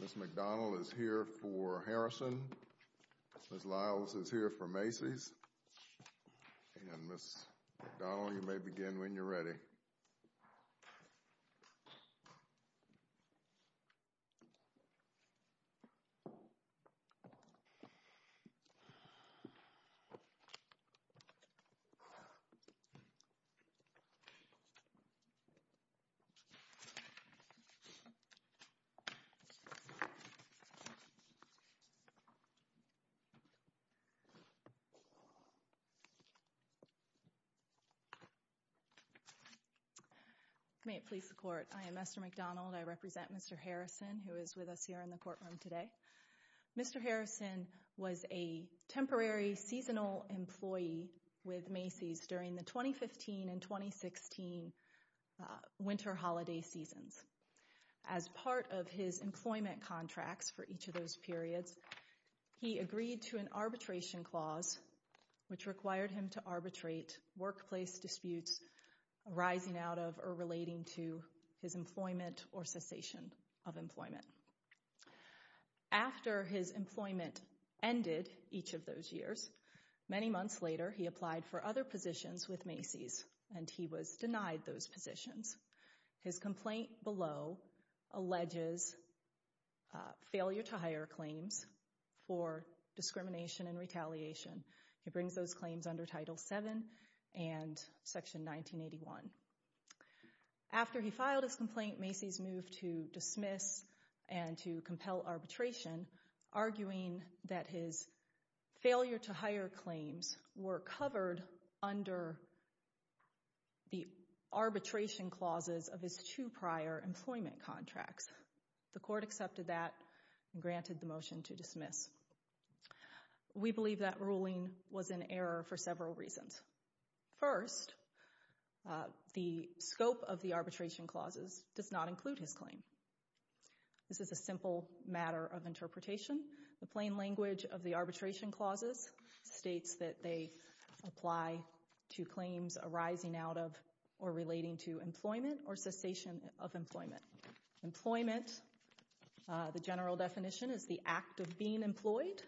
Ms. McDonnell is here for Harrison, Ms. Lyles is here for Macy's, and Ms. McDonnell, you may begin when you're ready. May it please the Court, I am Esther McDonald. I represent Mr. Harrison, who is with us here in the courtroom today. Mr. Harrison was a temporary seasonal employee with Macy's during the 2015 and 2016 winter holiday seasons. As part of his employment contracts for each of those periods, he agreed to an arbitration clause which required him to arbitrate workplace disputes arising out of or relating to his employment or cessation of employment. After his employment ended each of those years, many months later he applied for other positions with Macy's and he was denied those positions. His complaint below alleges failure to hire claims for discrimination and retaliation. He brings those claims under Title VII and Section 1981. After he filed his complaint, Macy's moved to dismiss and to compel arbitration, arguing that his failure to hire claims were covered under the arbitration clauses of his two prior employment contracts. The Court accepted that and granted the motion to dismiss. We believe that ruling was in error for several reasons. First, the scope of the arbitration clauses does not include his claim. This is a simple matter of interpretation. The plain language of the arbitration clauses states that they apply to claims arising out of or relating to employment or cessation of employment. Employment, the general definition is the act of being employed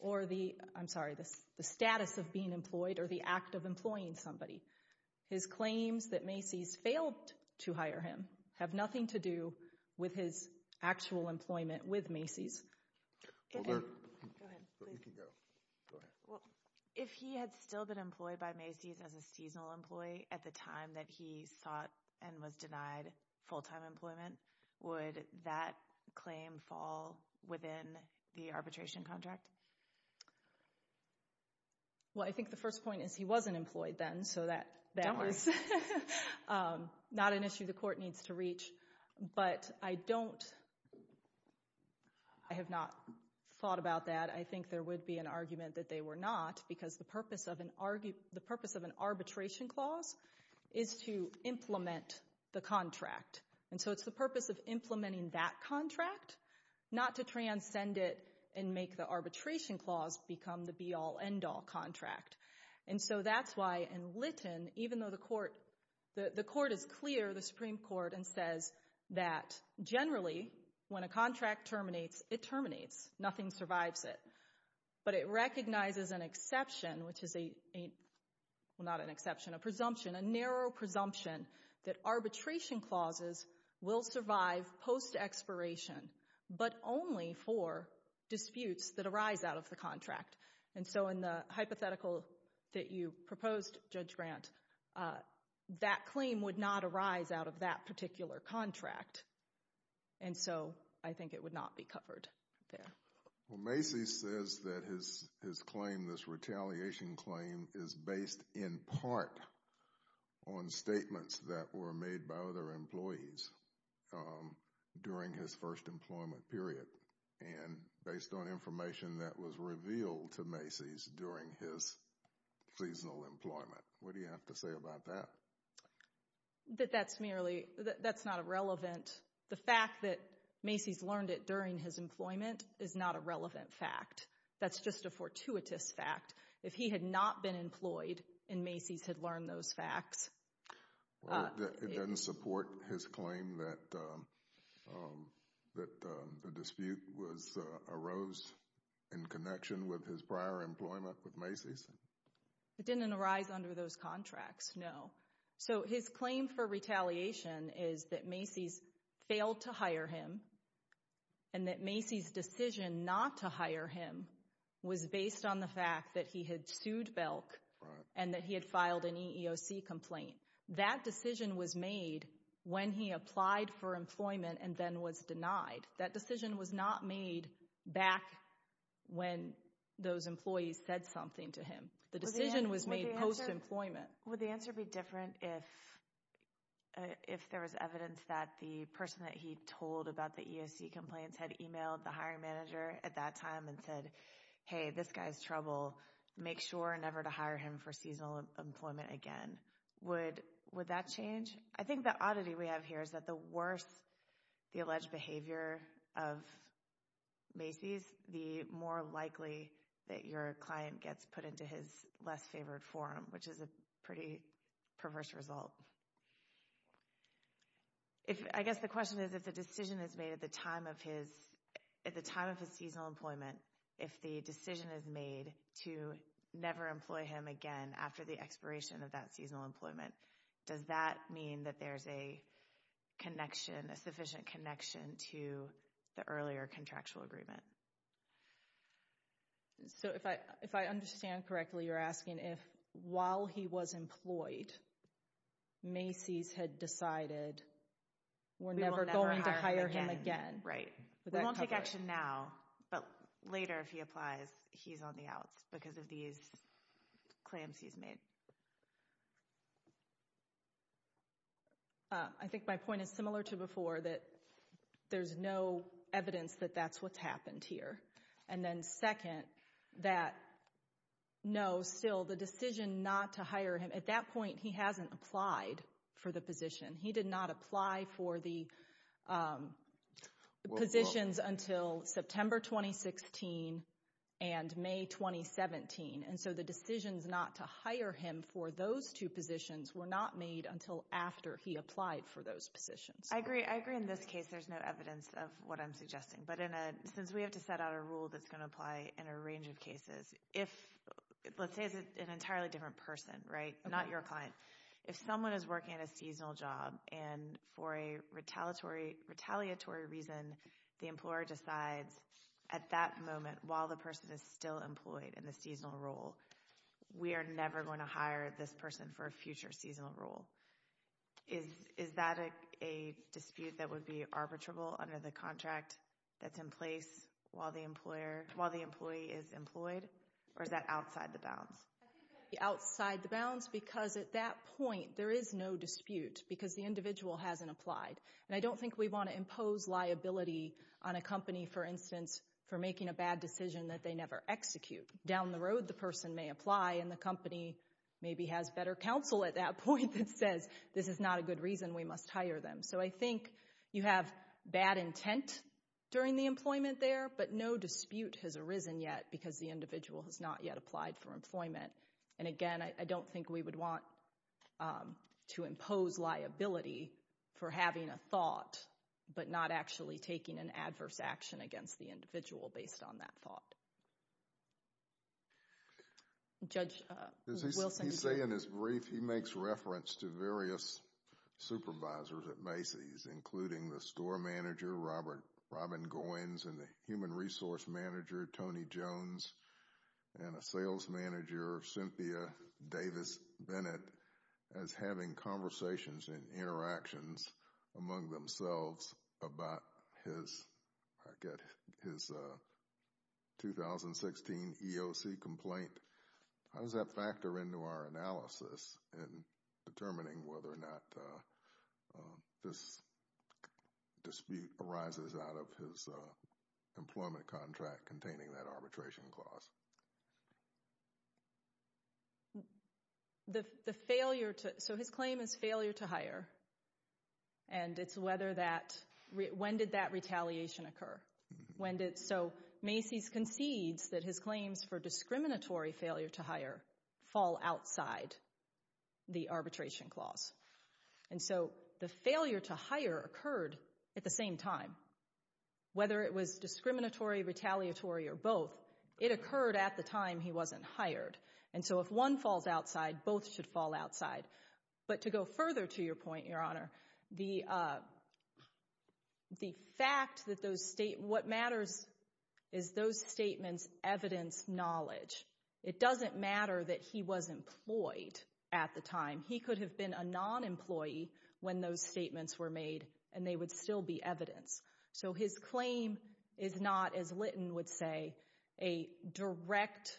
or the, I'm sorry, the status of being employed or the act of employing somebody. His claims that Macy's failed to hire him have nothing to do with his actual employment with Macy's. Go ahead. You can go. Go ahead. If he had still been employed by Macy's as a seasonal employee at the time that he sought and was denied full-time employment, would that claim fall within the arbitration contract? Well, I think the first point is he wasn't employed then, so that is not an issue the Court needs to reach. But I don't, I have not thought about that. I think there would be an argument that they were not because the purpose of an arbitration clause is to implement the contract. And so it's the purpose of implementing that contract, not to transcend it and make the arbitration clause become the be-all, end-all contract. And so that's why in Lytton, even though the Court, the Court is clear, the Supreme Court, and says that generally when a contract terminates, it terminates. Nothing survives it. But it recognizes an exception, which is a, well, not an exception, a presumption, a narrow presumption that arbitration clauses will survive post-expiration, but only for disputes that arise out of the contract. And so in the hypothetical that you proposed, Judge Grant, that claim would not arise out of that particular contract. And so I think it would not be covered there. Well, Macy's says that his claim, this retaliation claim, is based in part on statements that were made by other employees during his first employment period and based on information that was revealed to Macy's during his seasonal employment. What do you have to say about that? That that's merely, that's not a relevant, the fact that Macy's learned it during his employment is not a relevant fact. That's just a fortuitous fact. If he had not been employed and Macy's had learned those facts. It doesn't support his claim that the dispute was, arose in connection with his prior employment with Macy's? It didn't arise under those contracts, no. So his claim for retaliation is that Macy's failed to hire him and that Macy's decision not to hire him was based on the fact that he had sued Belk and that he had filed an EEOC complaint. That decision was made when he applied for employment and then was denied. That decision was not made back when those employees said something to him. The decision was made post-employment. Would the answer be different if there was evidence that the person that he told about the EEOC complaints had emailed the hiring manager at that time and said, hey, this guy's trouble. Make sure never to hire him for seasonal employment again. Would that change? I think the oddity we have here is that the worse the alleged behavior of Macy's, the more likely that your client gets put into his less favored forum, which is a pretty perverse result. I guess the question is, if the decision is made at the time of his seasonal employment, if the decision is made to never employ him again after the expiration of that seasonal employment, does that mean that there's a sufficient connection to the earlier contractual agreement? So if I understand correctly, you're asking if while he was employed, Macy's had decided we're never going to hire him again. Right. We won't take action now, but later if he applies, he's on the outs because of these claims he's made. I think my point is similar to before that there's no evidence that that's what's happened here. And then second, that no, still the decision not to hire him, at that point he hasn't applied for the position. He did not apply for the positions until September 2016 and May 2017. And so the decisions not to hire him for those two positions were not made until after he applied for those positions. I agree. I agree in this case there's no evidence of what I'm suggesting. But since we have to set out a rule that's going to apply in a range of cases, let's say it's an entirely different person, right, not your client. If someone is working a seasonal job and for a retaliatory reason, the employer decides at that moment while the person is still employed in the seasonal role, we are never going to hire this person for a future seasonal role. Is that a dispute that would be arbitrable under the contract that's in place while the employee is employed? Or is that outside the bounds? I think that would be outside the bounds because at that point there is no dispute because the individual hasn't applied. And I don't think we want to impose liability on a company, for instance, for making a bad decision that they never execute. Down the road the person may apply and the company maybe has better counsel at that point that says this is not a good reason we must hire them. So I think you have bad intent during the employment there, but no dispute has arisen yet because the individual has not yet applied for employment. And again, I don't think we would want to impose liability for having a thought but not actually taking an adverse action against the individual based on that thought. Judge Wilson. As he said in his brief, he makes reference to various supervisors at Macy's, including the store manager, Robert Robin Goins, and the human resource manager, Tony Jones, and a sales manager, Cynthia Davis Bennett, as having conversations and interactions among themselves about his 2016 EOC complaint. How does that factor into our analysis in determining whether or not this dispute arises out of his employment contract containing that arbitration clause? So his claim is failure to hire, and it's when did that retaliation occur? So Macy's concedes that his claims for discriminatory failure to hire fall outside the arbitration clause. And so the failure to hire occurred at the same time. Whether it was discriminatory, retaliatory, or both, it occurred at the time he wasn't hired. And so if one falls outside, both should fall outside. But to go further to your point, Your Honor, the fact that those statements, what matters is those statements evidence knowledge. It doesn't matter that he was employed at the time. He could have been a non-employee when those statements were made, and they would still be evidence. So his claim is not, as Litton would say, a direct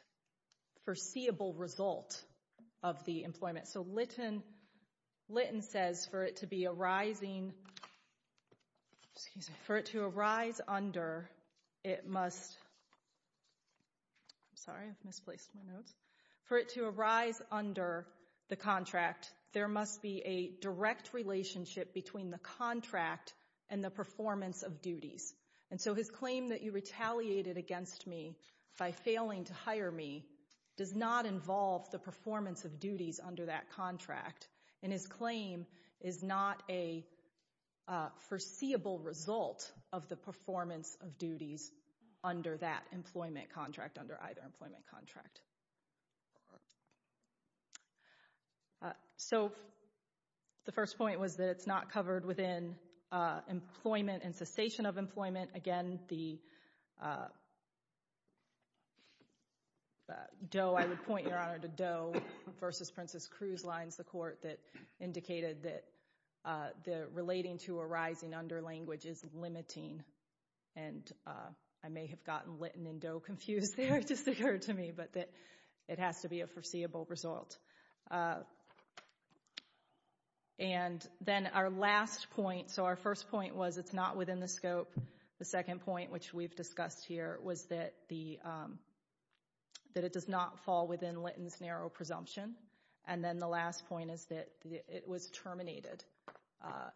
foreseeable result of the employment. So Litton says for it to arise under the contract, there must be a direct relationship between the contract and the performance of duties. And so his claim that you retaliated against me by failing to hire me does not involve the performance of duties under that contract. And his claim is not a foreseeable result of the performance of duties under that employment contract, under either employment contract. So the first point was that it's not covered within employment and cessation of employment. Again, the Doe, I would point, Your Honor, to Doe versus Princess Cruz lines, the court that indicated that relating to arising under language is limiting. And I may have gotten Litton and Doe confused there, it just occurred to me, but it has to be a foreseeable result. And then our last point, so our first point was it's not within the scope. The second point, which we've discussed here, was that it does not fall within Litton's narrow presumption. And then the last point is that it was terminated.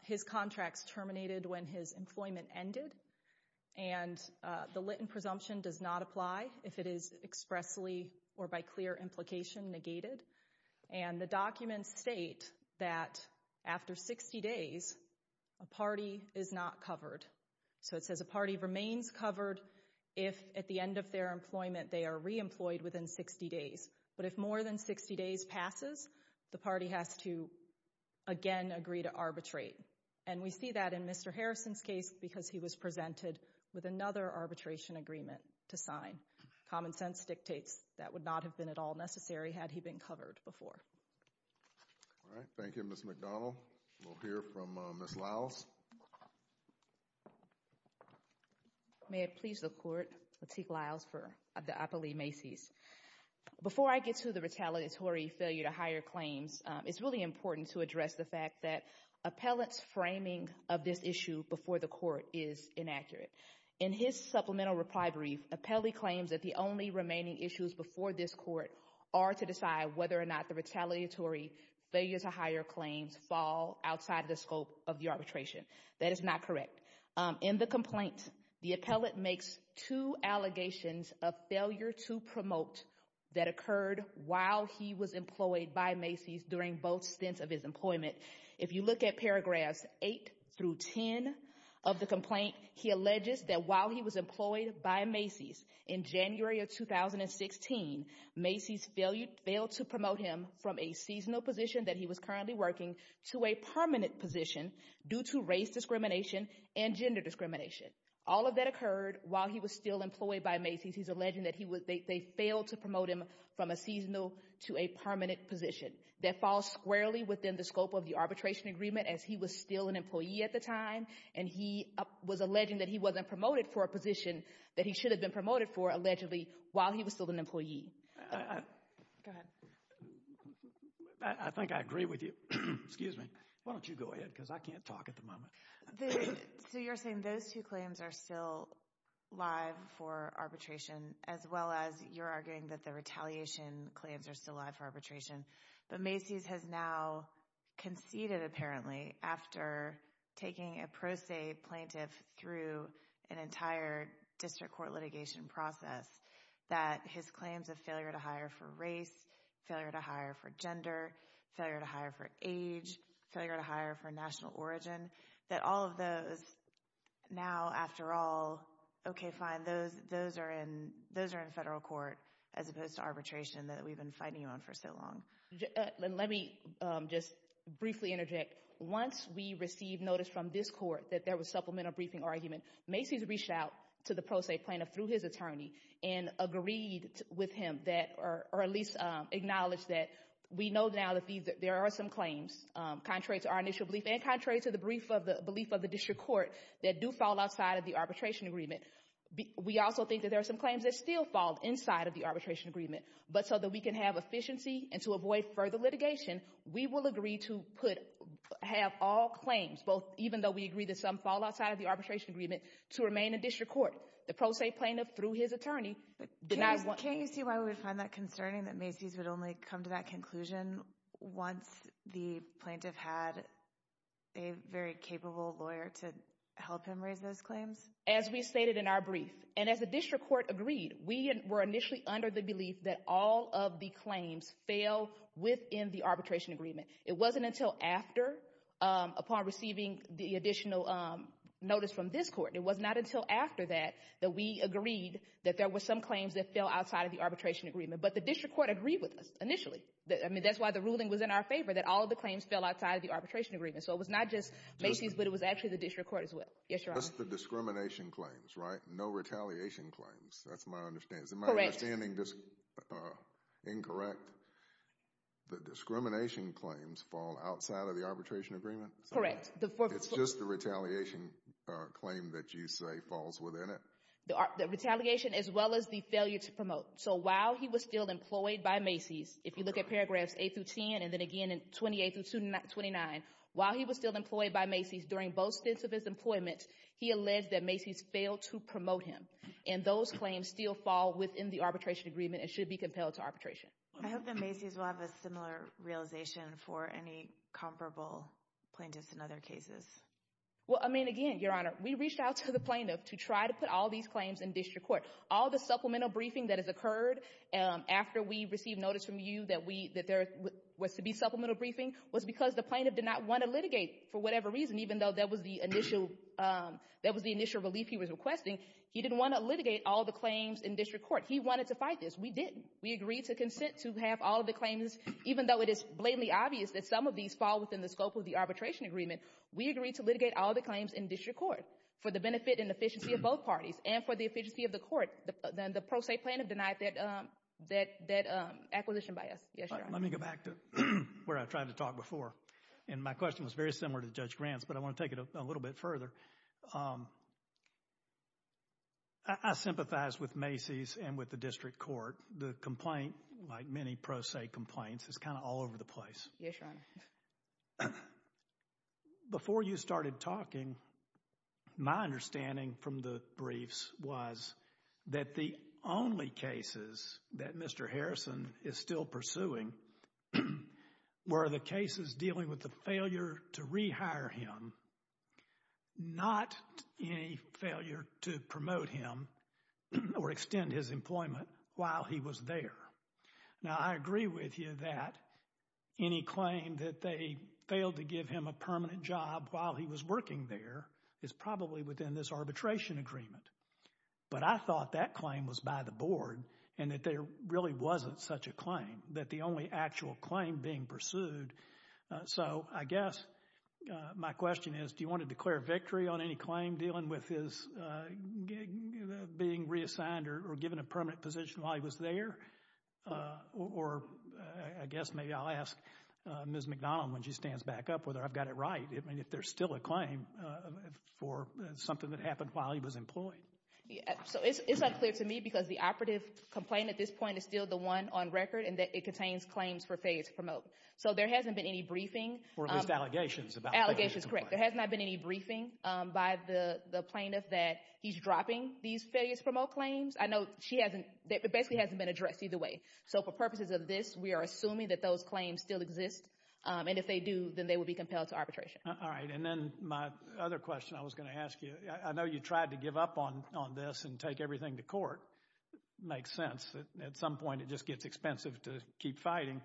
His contract's terminated when his employment ended. And the Litton presumption does not apply if it is expressly or by clear implication negated. And the documents state that after 60 days, a party is not covered. So it says a party remains covered if at the end of their employment they are reemployed within 60 days. But if more than 60 days passes, the party has to, again, agree to arbitrate. And we see that in Mr. Harrison's case because he was presented with another arbitration agreement to sign. Common sense dictates that would not have been at all necessary had he been covered before. All right, thank you, Ms. McDonald. We'll hear from Ms. Liles. May it please the Court, Lateek Liles for the Appellee Macy's. Before I get to the retaliatory failure to hire claims, it's really important to address the fact that appellate's framing of this issue before the Court is inaccurate. In his supplemental reply brief, appellee claims that the only remaining issues before this Court are to decide whether or not the retaliatory failure to hire claims fall outside the scope of the arbitration. That is not correct. In the complaint, the appellate makes two allegations of failure to promote that occurred while he was employed by Macy's during both stints of his employment. If you look at paragraphs 8 through 10 of the complaint, he alleges that while he was employed by Macy's in January of 2016, Macy's failed to promote him from a seasonal position that he was currently working to a permanent position due to race discrimination and gender discrimination. All of that occurred while he was still employed by Macy's. He's alleging that they failed to promote him from a seasonal to a permanent position. That falls squarely within the scope of the arbitration agreement as he was still an employee at the time, and he was alleging that he wasn't promoted for a position that he should have been promoted for allegedly while he was still an employee. Go ahead. I think I agree with you. Excuse me. Why don't you go ahead because I can't talk at the moment. So you're saying those two claims are still live for arbitration as well as you're arguing that the retaliation claims are still live for arbitration. But Macy's has now conceded, apparently, after taking a pro se plaintiff through an entire district court litigation process, that his claims of failure to hire for race, failure to hire for gender, failure to hire for age, failure to hire for national origin, that all of those now, after all, okay, fine, those are in federal court as opposed to arbitration that we've been fighting on for so long. Let me just briefly interject. Once we received notice from this court that there was supplemental briefing argument, Macy's reached out to the pro se plaintiff through his attorney and agreed with him or at least acknowledged that we know now that there are some claims, contrary to our initial belief and contrary to the belief of the district court, that do fall outside of the arbitration agreement. We also think that there are some claims that still fall inside of the arbitration agreement. But so that we can have efficiency and to avoid further litigation, we will agree to have all claims, even though we agree that some fall outside of the arbitration agreement, to remain in district court. The pro se plaintiff, through his attorney, denied one. Can you see why we would find that concerning that Macy's would only come to that conclusion once the plaintiff had a very capable lawyer to help him raise those claims? As we stated in our brief, and as the district court agreed, we were initially under the belief that all of the claims fail within the arbitration agreement. It wasn't until after, upon receiving the additional notice from this court, it was not until after that that we agreed that there were some claims that fell outside of the arbitration agreement. But the district court agreed with us initially. I mean, that's why the ruling was in our favor, that all of the claims fell outside of the arbitration agreement. So it was not just Macy's, but it was actually the district court as well. Yes, Your Honor. Just the discrimination claims, right? No retaliation claims. That's my understanding. Correct. Is my understanding just incorrect? The discrimination claims fall outside of the arbitration agreement? Correct. It's just the retaliation claim that you say falls within it? The retaliation as well as the failure to promote. So while he was still employed by Macy's, if you look at paragraphs 8 through 10, and then again in 28 through 29, while he was still employed by Macy's during both stints of his employment, he alleged that Macy's failed to promote him. And those claims still fall within the arbitration agreement and should be compelled to arbitration. I hope that Macy's will have a similar realization for any comparable plaintiffs in other cases. Well, I mean, again, Your Honor, we reached out to the plaintiff to try to put all these claims in district court. All the supplemental briefing that has occurred after we received notice from you that there was to be supplemental briefing was because the plaintiff did not want to litigate for whatever reason, even though that was the initial relief he was requesting. He didn't want to litigate all the claims in district court. He wanted to fight this. We didn't. We agreed to consent to have all of the claims, even though it is blatantly obvious that some of these fall within the scope of the arbitration agreement. We agreed to litigate all the claims in district court for the benefit and efficiency of both parties and for the efficiency of the court. The pro se plaintiff denied that acquisition by us. Yes, Your Honor. Let me go back to where I tried to talk before. And my question was very similar to Judge Grant's, but I want to take it a little bit further. I sympathize with Macy's and with the district court. The complaint, like many pro se complaints, is kind of all over the place. Yes, Your Honor. Before you started talking, my understanding from the briefs was that the only cases that Mr. Harrison is still pursuing were the cases dealing with the failure to rehire him, not any failure to promote him or extend his employment while he was there. Now, I agree with you that any claim that they failed to give him a permanent job while he was working there is probably within this arbitration agreement. But I thought that claim was by the board and that there really wasn't such a claim, that the only actual claim being pursued. So I guess my question is, do you want to declare victory on any claim dealing with his being reassigned or given a permanent position while he was there? Or I guess maybe I'll ask Ms. McDonald when she stands back up whether I've got it right. I mean, if there's still a claim for something that happened while he was employed. So it's unclear to me because the operative complaint at this point is still the one on record and it contains claims for failure to promote. So there hasn't been any briefing. Or at least allegations about failure to promote. Allegations, correct. There has not been any briefing by the plaintiff that he's dropping these failure to promote claims. I know she hasn't, it basically hasn't been addressed either way. So for purposes of this, we are assuming that those claims still exist. And if they do, then they would be compelled to arbitration. All right. And then my other question I was going to ask you, I know you tried to give up on this and take everything to court. Makes sense. At some point it just gets expensive to keep fighting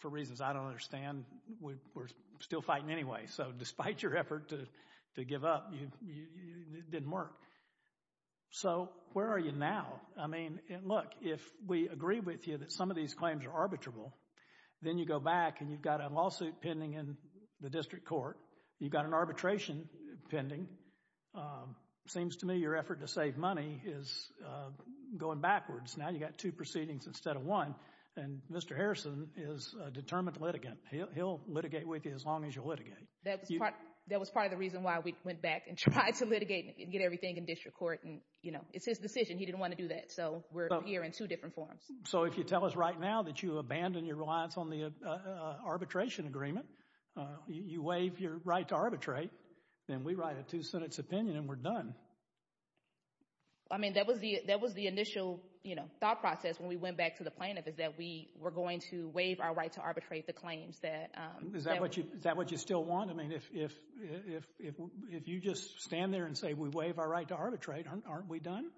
for reasons I don't understand. We're still fighting anyway. So despite your effort to give up, it didn't work. So where are you now? I mean, look, if we agree with you that some of these claims are arbitrable, then you go back and you've got a lawsuit pending in the district court. You've got an arbitration pending. Seems to me your effort to save money is going backwards. Now you've got two proceedings instead of one. And Mr. Harrison is a determined litigant. He'll litigate with you as long as you litigate. That was part of the reason why we went back and tried to litigate and get everything in district court. It's his decision. He didn't want to do that. So we're here in two different forms. So if you tell us right now that you abandon your reliance on the arbitration agreement, you waive your right to arbitrate, then we write a two-sentence opinion and we're done. I mean, that was the initial thought process when we went back to the plaintiff is that we were going to waive our right to arbitrate the claims. Is that what you still want? I mean, if you just stand there and say we waive our right to arbitrate, aren't we done?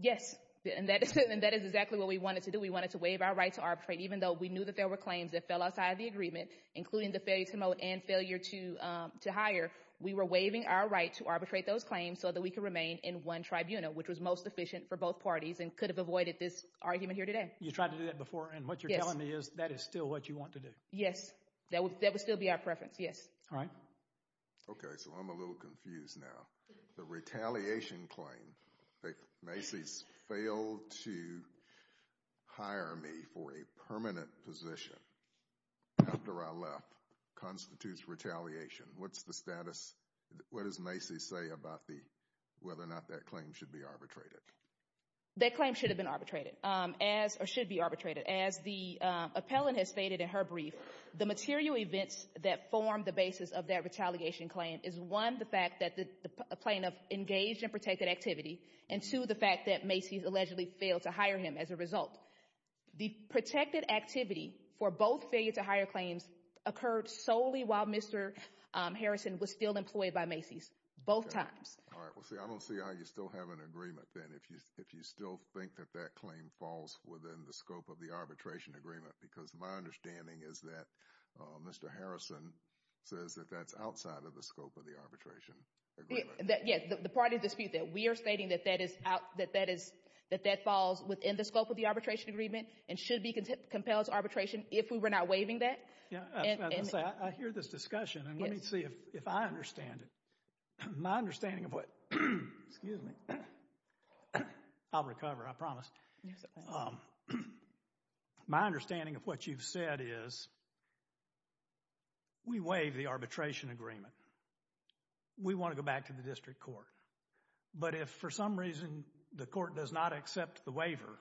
Yes, and that is exactly what we wanted to do. We wanted to waive our right to arbitrate even though we knew that there were claims that fell outside of the agreement, including the failure to moat and failure to hire. We were waiving our right to arbitrate those claims so that we could remain in one tribunal, which was most efficient for both parties and could have avoided this argument here today. You tried to do that before, and what you're telling me is that is still what you want to do. Yes, that would still be our preference, yes. All right. Okay, so I'm a little confused now. The retaliation claim that Macy's failed to hire me for a permanent position after I left constitutes retaliation. What's the status? What does Macy's say about whether or not that claim should be arbitrated? That claim should have been arbitrated or should be arbitrated. As the appellant has stated in her brief, the material events that form the basis of that retaliation claim is, one, the fact that the plaintiff engaged in protected activity, and, two, the fact that Macy's allegedly failed to hire him as a result. The protected activity for both failure to hire claims occurred solely while Mr. Harrison was still employed by Macy's, both times. All right, well, see, I don't see how you still have an agreement, then, if you still think that that claim falls within the scope of the arbitration agreement, because my understanding is that Mr. Harrison says that that's outside of the scope of the arbitration agreement. Yes, the part of the dispute that we are stating that that falls within the scope of the arbitration agreement and should be compelled to arbitration if we were not waiving that. Yeah, I hear this discussion, and let me see if I understand it. My understanding of what—excuse me. I'll recover, I promise. My understanding of what you've said is we waive the arbitration agreement. We want to go back to the district court, but if for some reason the court does not accept the waiver,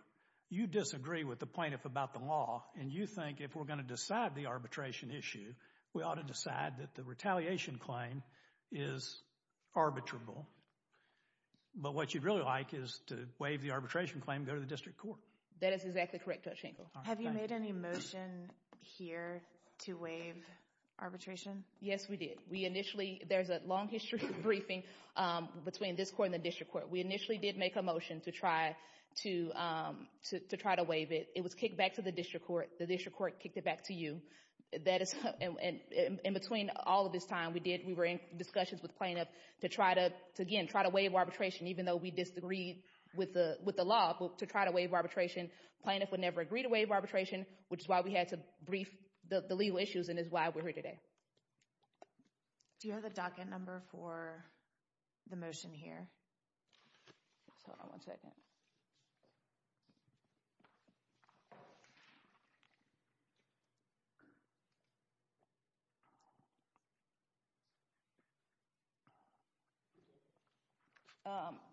you disagree with the plaintiff about the law, and you think if we're going to decide the arbitration issue, we ought to decide that the retaliation claim is arbitrable. But what you'd really like is to waive the arbitration claim and go to the district court. That is exactly correct, Judge Hinkle. Have you made any motion here to waive arbitration? Yes, we did. We initially—there's a long history of briefing between this court and the district court. We initially did make a motion to try to waive it. It was kicked back to the district court. The district court kicked it back to you. In between all of this time, we were in discussions with plaintiffs to try to, again, try to waive arbitration, even though we disagreed with the law, but to try to waive arbitration. The plaintiff would never agree to waive arbitration, which is why we had to brief the legal issues, and it's why we're here today. Do you have the docket number for the motion here? Hold on one second.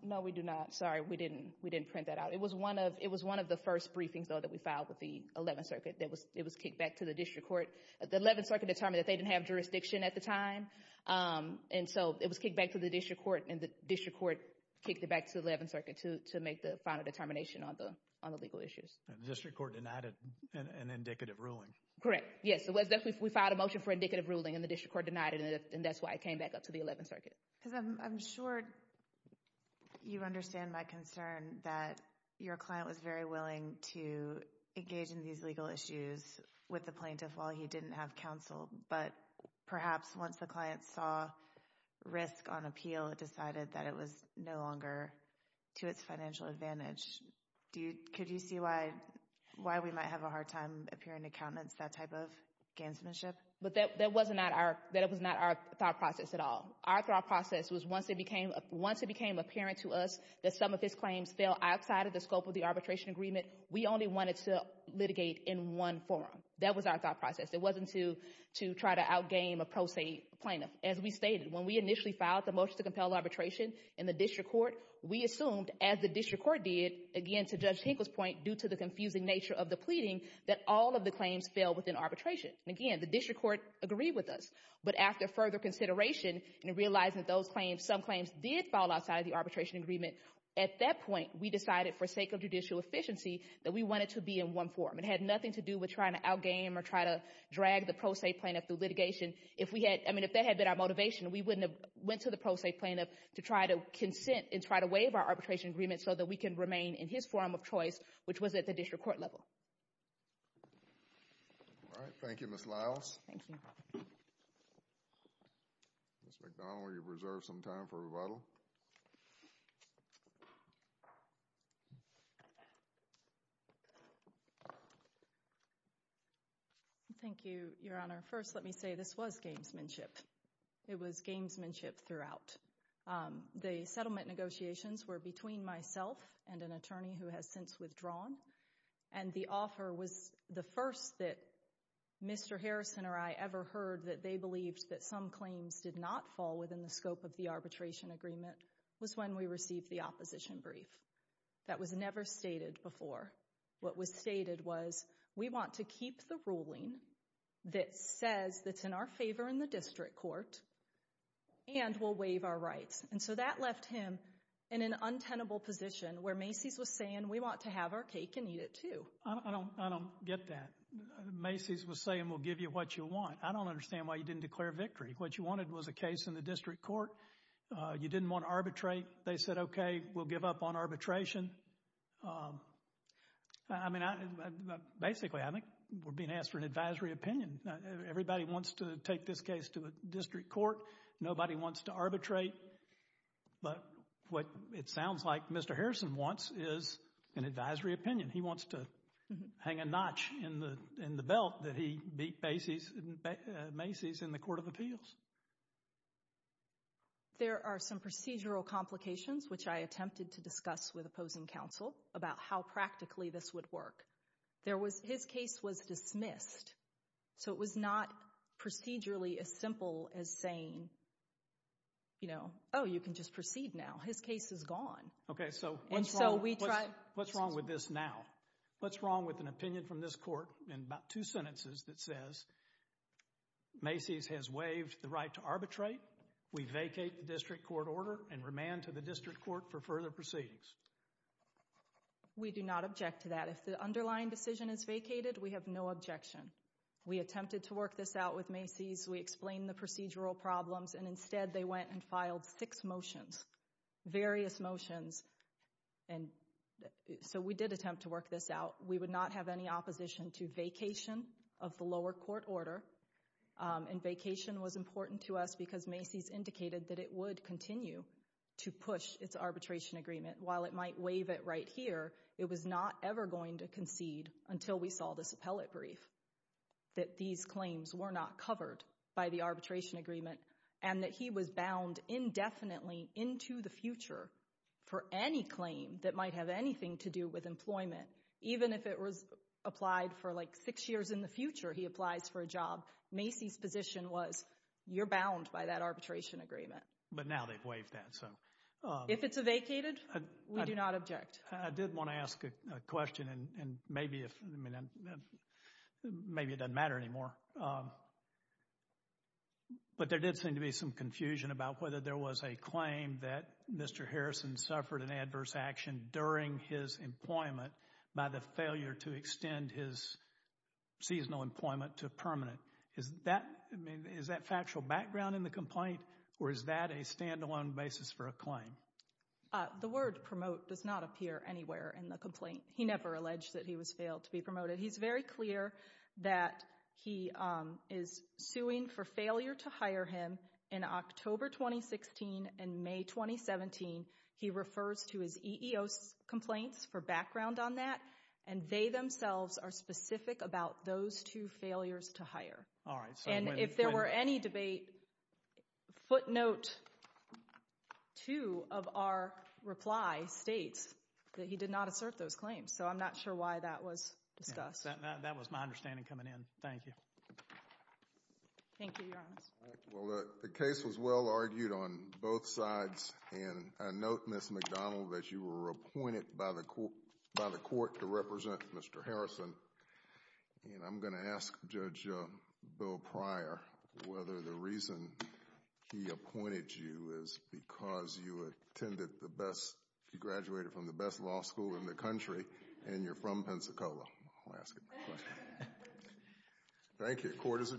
No, we do not. Sorry, we didn't print that out. It was one of the first briefings, though, that we filed with the 11th Circuit. It was kicked back to the district court. The 11th Circuit determined that they didn't have jurisdiction at the time, and so it was kicked back to the district court, and the district court kicked it back to the 11th Circuit to make the final determination on the legal issues. And the district court denied it in indicative ruling. Correct, yes. We filed a motion for indicative ruling, and the district court denied it, and that's why it came back up to the 11th Circuit. I'm sure you understand my concern that your client was very willing to engage in these legal issues with the plaintiff while he didn't have counsel, but perhaps once the client saw risk on appeal, it decided that it was no longer to its financial advantage. Could you see why we might have a hard time appearing to countenance that type of ganssmanship? But that was not our thought process at all. Our thought process was once it became apparent to us that some of his claims fell outside of the scope of the arbitration agreement, we only wanted to litigate in one forum. That was our thought process. It wasn't to try to out-game a pro se plaintiff. As we stated, when we initially filed the motion to compel arbitration in the district court, we assumed, as the district court did, again, to Judge Hinkle's point, due to the confusing nature of the pleading, that all of the claims fell within arbitration. Again, the district court agreed with us, but after further consideration and realizing that those claims, some claims did fall outside of the arbitration agreement, at that point, we decided, for sake of judicial efficiency, that we wanted to be in one forum. It had nothing to do with trying to out-game or trying to drag the pro se plaintiff through litigation. If that had been our motivation, we wouldn't have went to the pro se plaintiff to try to consent and try to waive our arbitration agreement so that we can remain in his forum of choice, which was at the district court level. All right. Thank you, Ms. Lyles. Thank you. Ms. McDonald, you've reserved some time for rebuttal. Thank you, Your Honor. First, let me say this was gamesmanship. It was gamesmanship throughout. The settlement negotiations were between myself and an attorney who has since withdrawn, and the offer was the first that Mr. Harrison or I ever heard that they believed that some claims did not fall within the scope of the arbitration agreement was when we received the opposition brief. That was never stated before. What was stated was, we want to keep the ruling that says that it's in our favor in the district court and we'll waive our rights. And so that left him in an untenable position where Macy's was saying, we want to have our cake and eat it too. I don't get that. Macy's was saying, we'll give you what you want. I don't understand why you didn't declare victory. What you wanted was a case in the district court. You didn't want to arbitrate. They said, okay, we'll give up on arbitration. Basically, I think we're being asked for an advisory opinion. Everybody wants to take this case to the district court. Nobody wants to arbitrate. But what it sounds like Mr. Harrison wants is an advisory opinion. He wants to hang a notch in the belt that he beat Macy's in the court of appeals. There are some procedural complications, which I attempted to discuss with opposing counsel, about how practically this would work. His case was dismissed. So it was not procedurally as simple as saying, oh, you can just proceed now. His case is gone. Okay, so what's wrong with this now? What's wrong with an opinion from this court in about two sentences that says, Macy's has waived the right to arbitrate. We vacate the district court order and remand to the district court for further proceedings. We do not object to that. If the underlying decision is vacated, we have no objection. We attempted to work this out with Macy's. We explained the procedural problems. And instead, they went and filed six motions, various motions. And so we did attempt to work this out. We would not have any opposition to vacation of the lower court order. And vacation was important to us because Macy's indicated that it would continue to push its arbitration agreement. While it might waive it right here, it was not ever going to concede until we saw this appellate brief that these claims were not covered by the arbitration agreement and that he was bound indefinitely into the future for any claim that might have anything to do with employment. Even if it was applied for, like, six years in the future, he applies for a job, Macy's position was, you're bound by that arbitration agreement. But now they've waived that. If it's vacated, we do not object. I did want to ask a question, and maybe it doesn't matter anymore. But there did seem to be some confusion about whether there was a claim that Mr. Harrison suffered an adverse action during his employment by the failure to extend his seasonal employment to permanent. Is that factual background in the complaint, or is that a stand-alone basis for a claim? The word promote does not appear anywhere in the complaint. He never alleged that he was failed to be promoted. He's very clear that he is suing for failure to hire him. In October 2016 and May 2017, he refers to his EEO complaints for background on that, and they themselves are specific about those two failures to hire. And if there were any debate, footnote 2 of our reply states that he did not assert those claims. So I'm not sure why that was discussed. That was my understanding coming in. Thank you. Thank you, Your Honor. Well, the case was well argued on both sides, and I note, Ms. McDonald, that you were appointed by the court to represent Mr. Harrison, and I'm going to ask Judge Bill Pryor whether the reason he appointed you is because you attended the best... you graduated from the best law school in the country, and you're from Pensacola. I'll ask him the question. Thank you. Court is adjourned.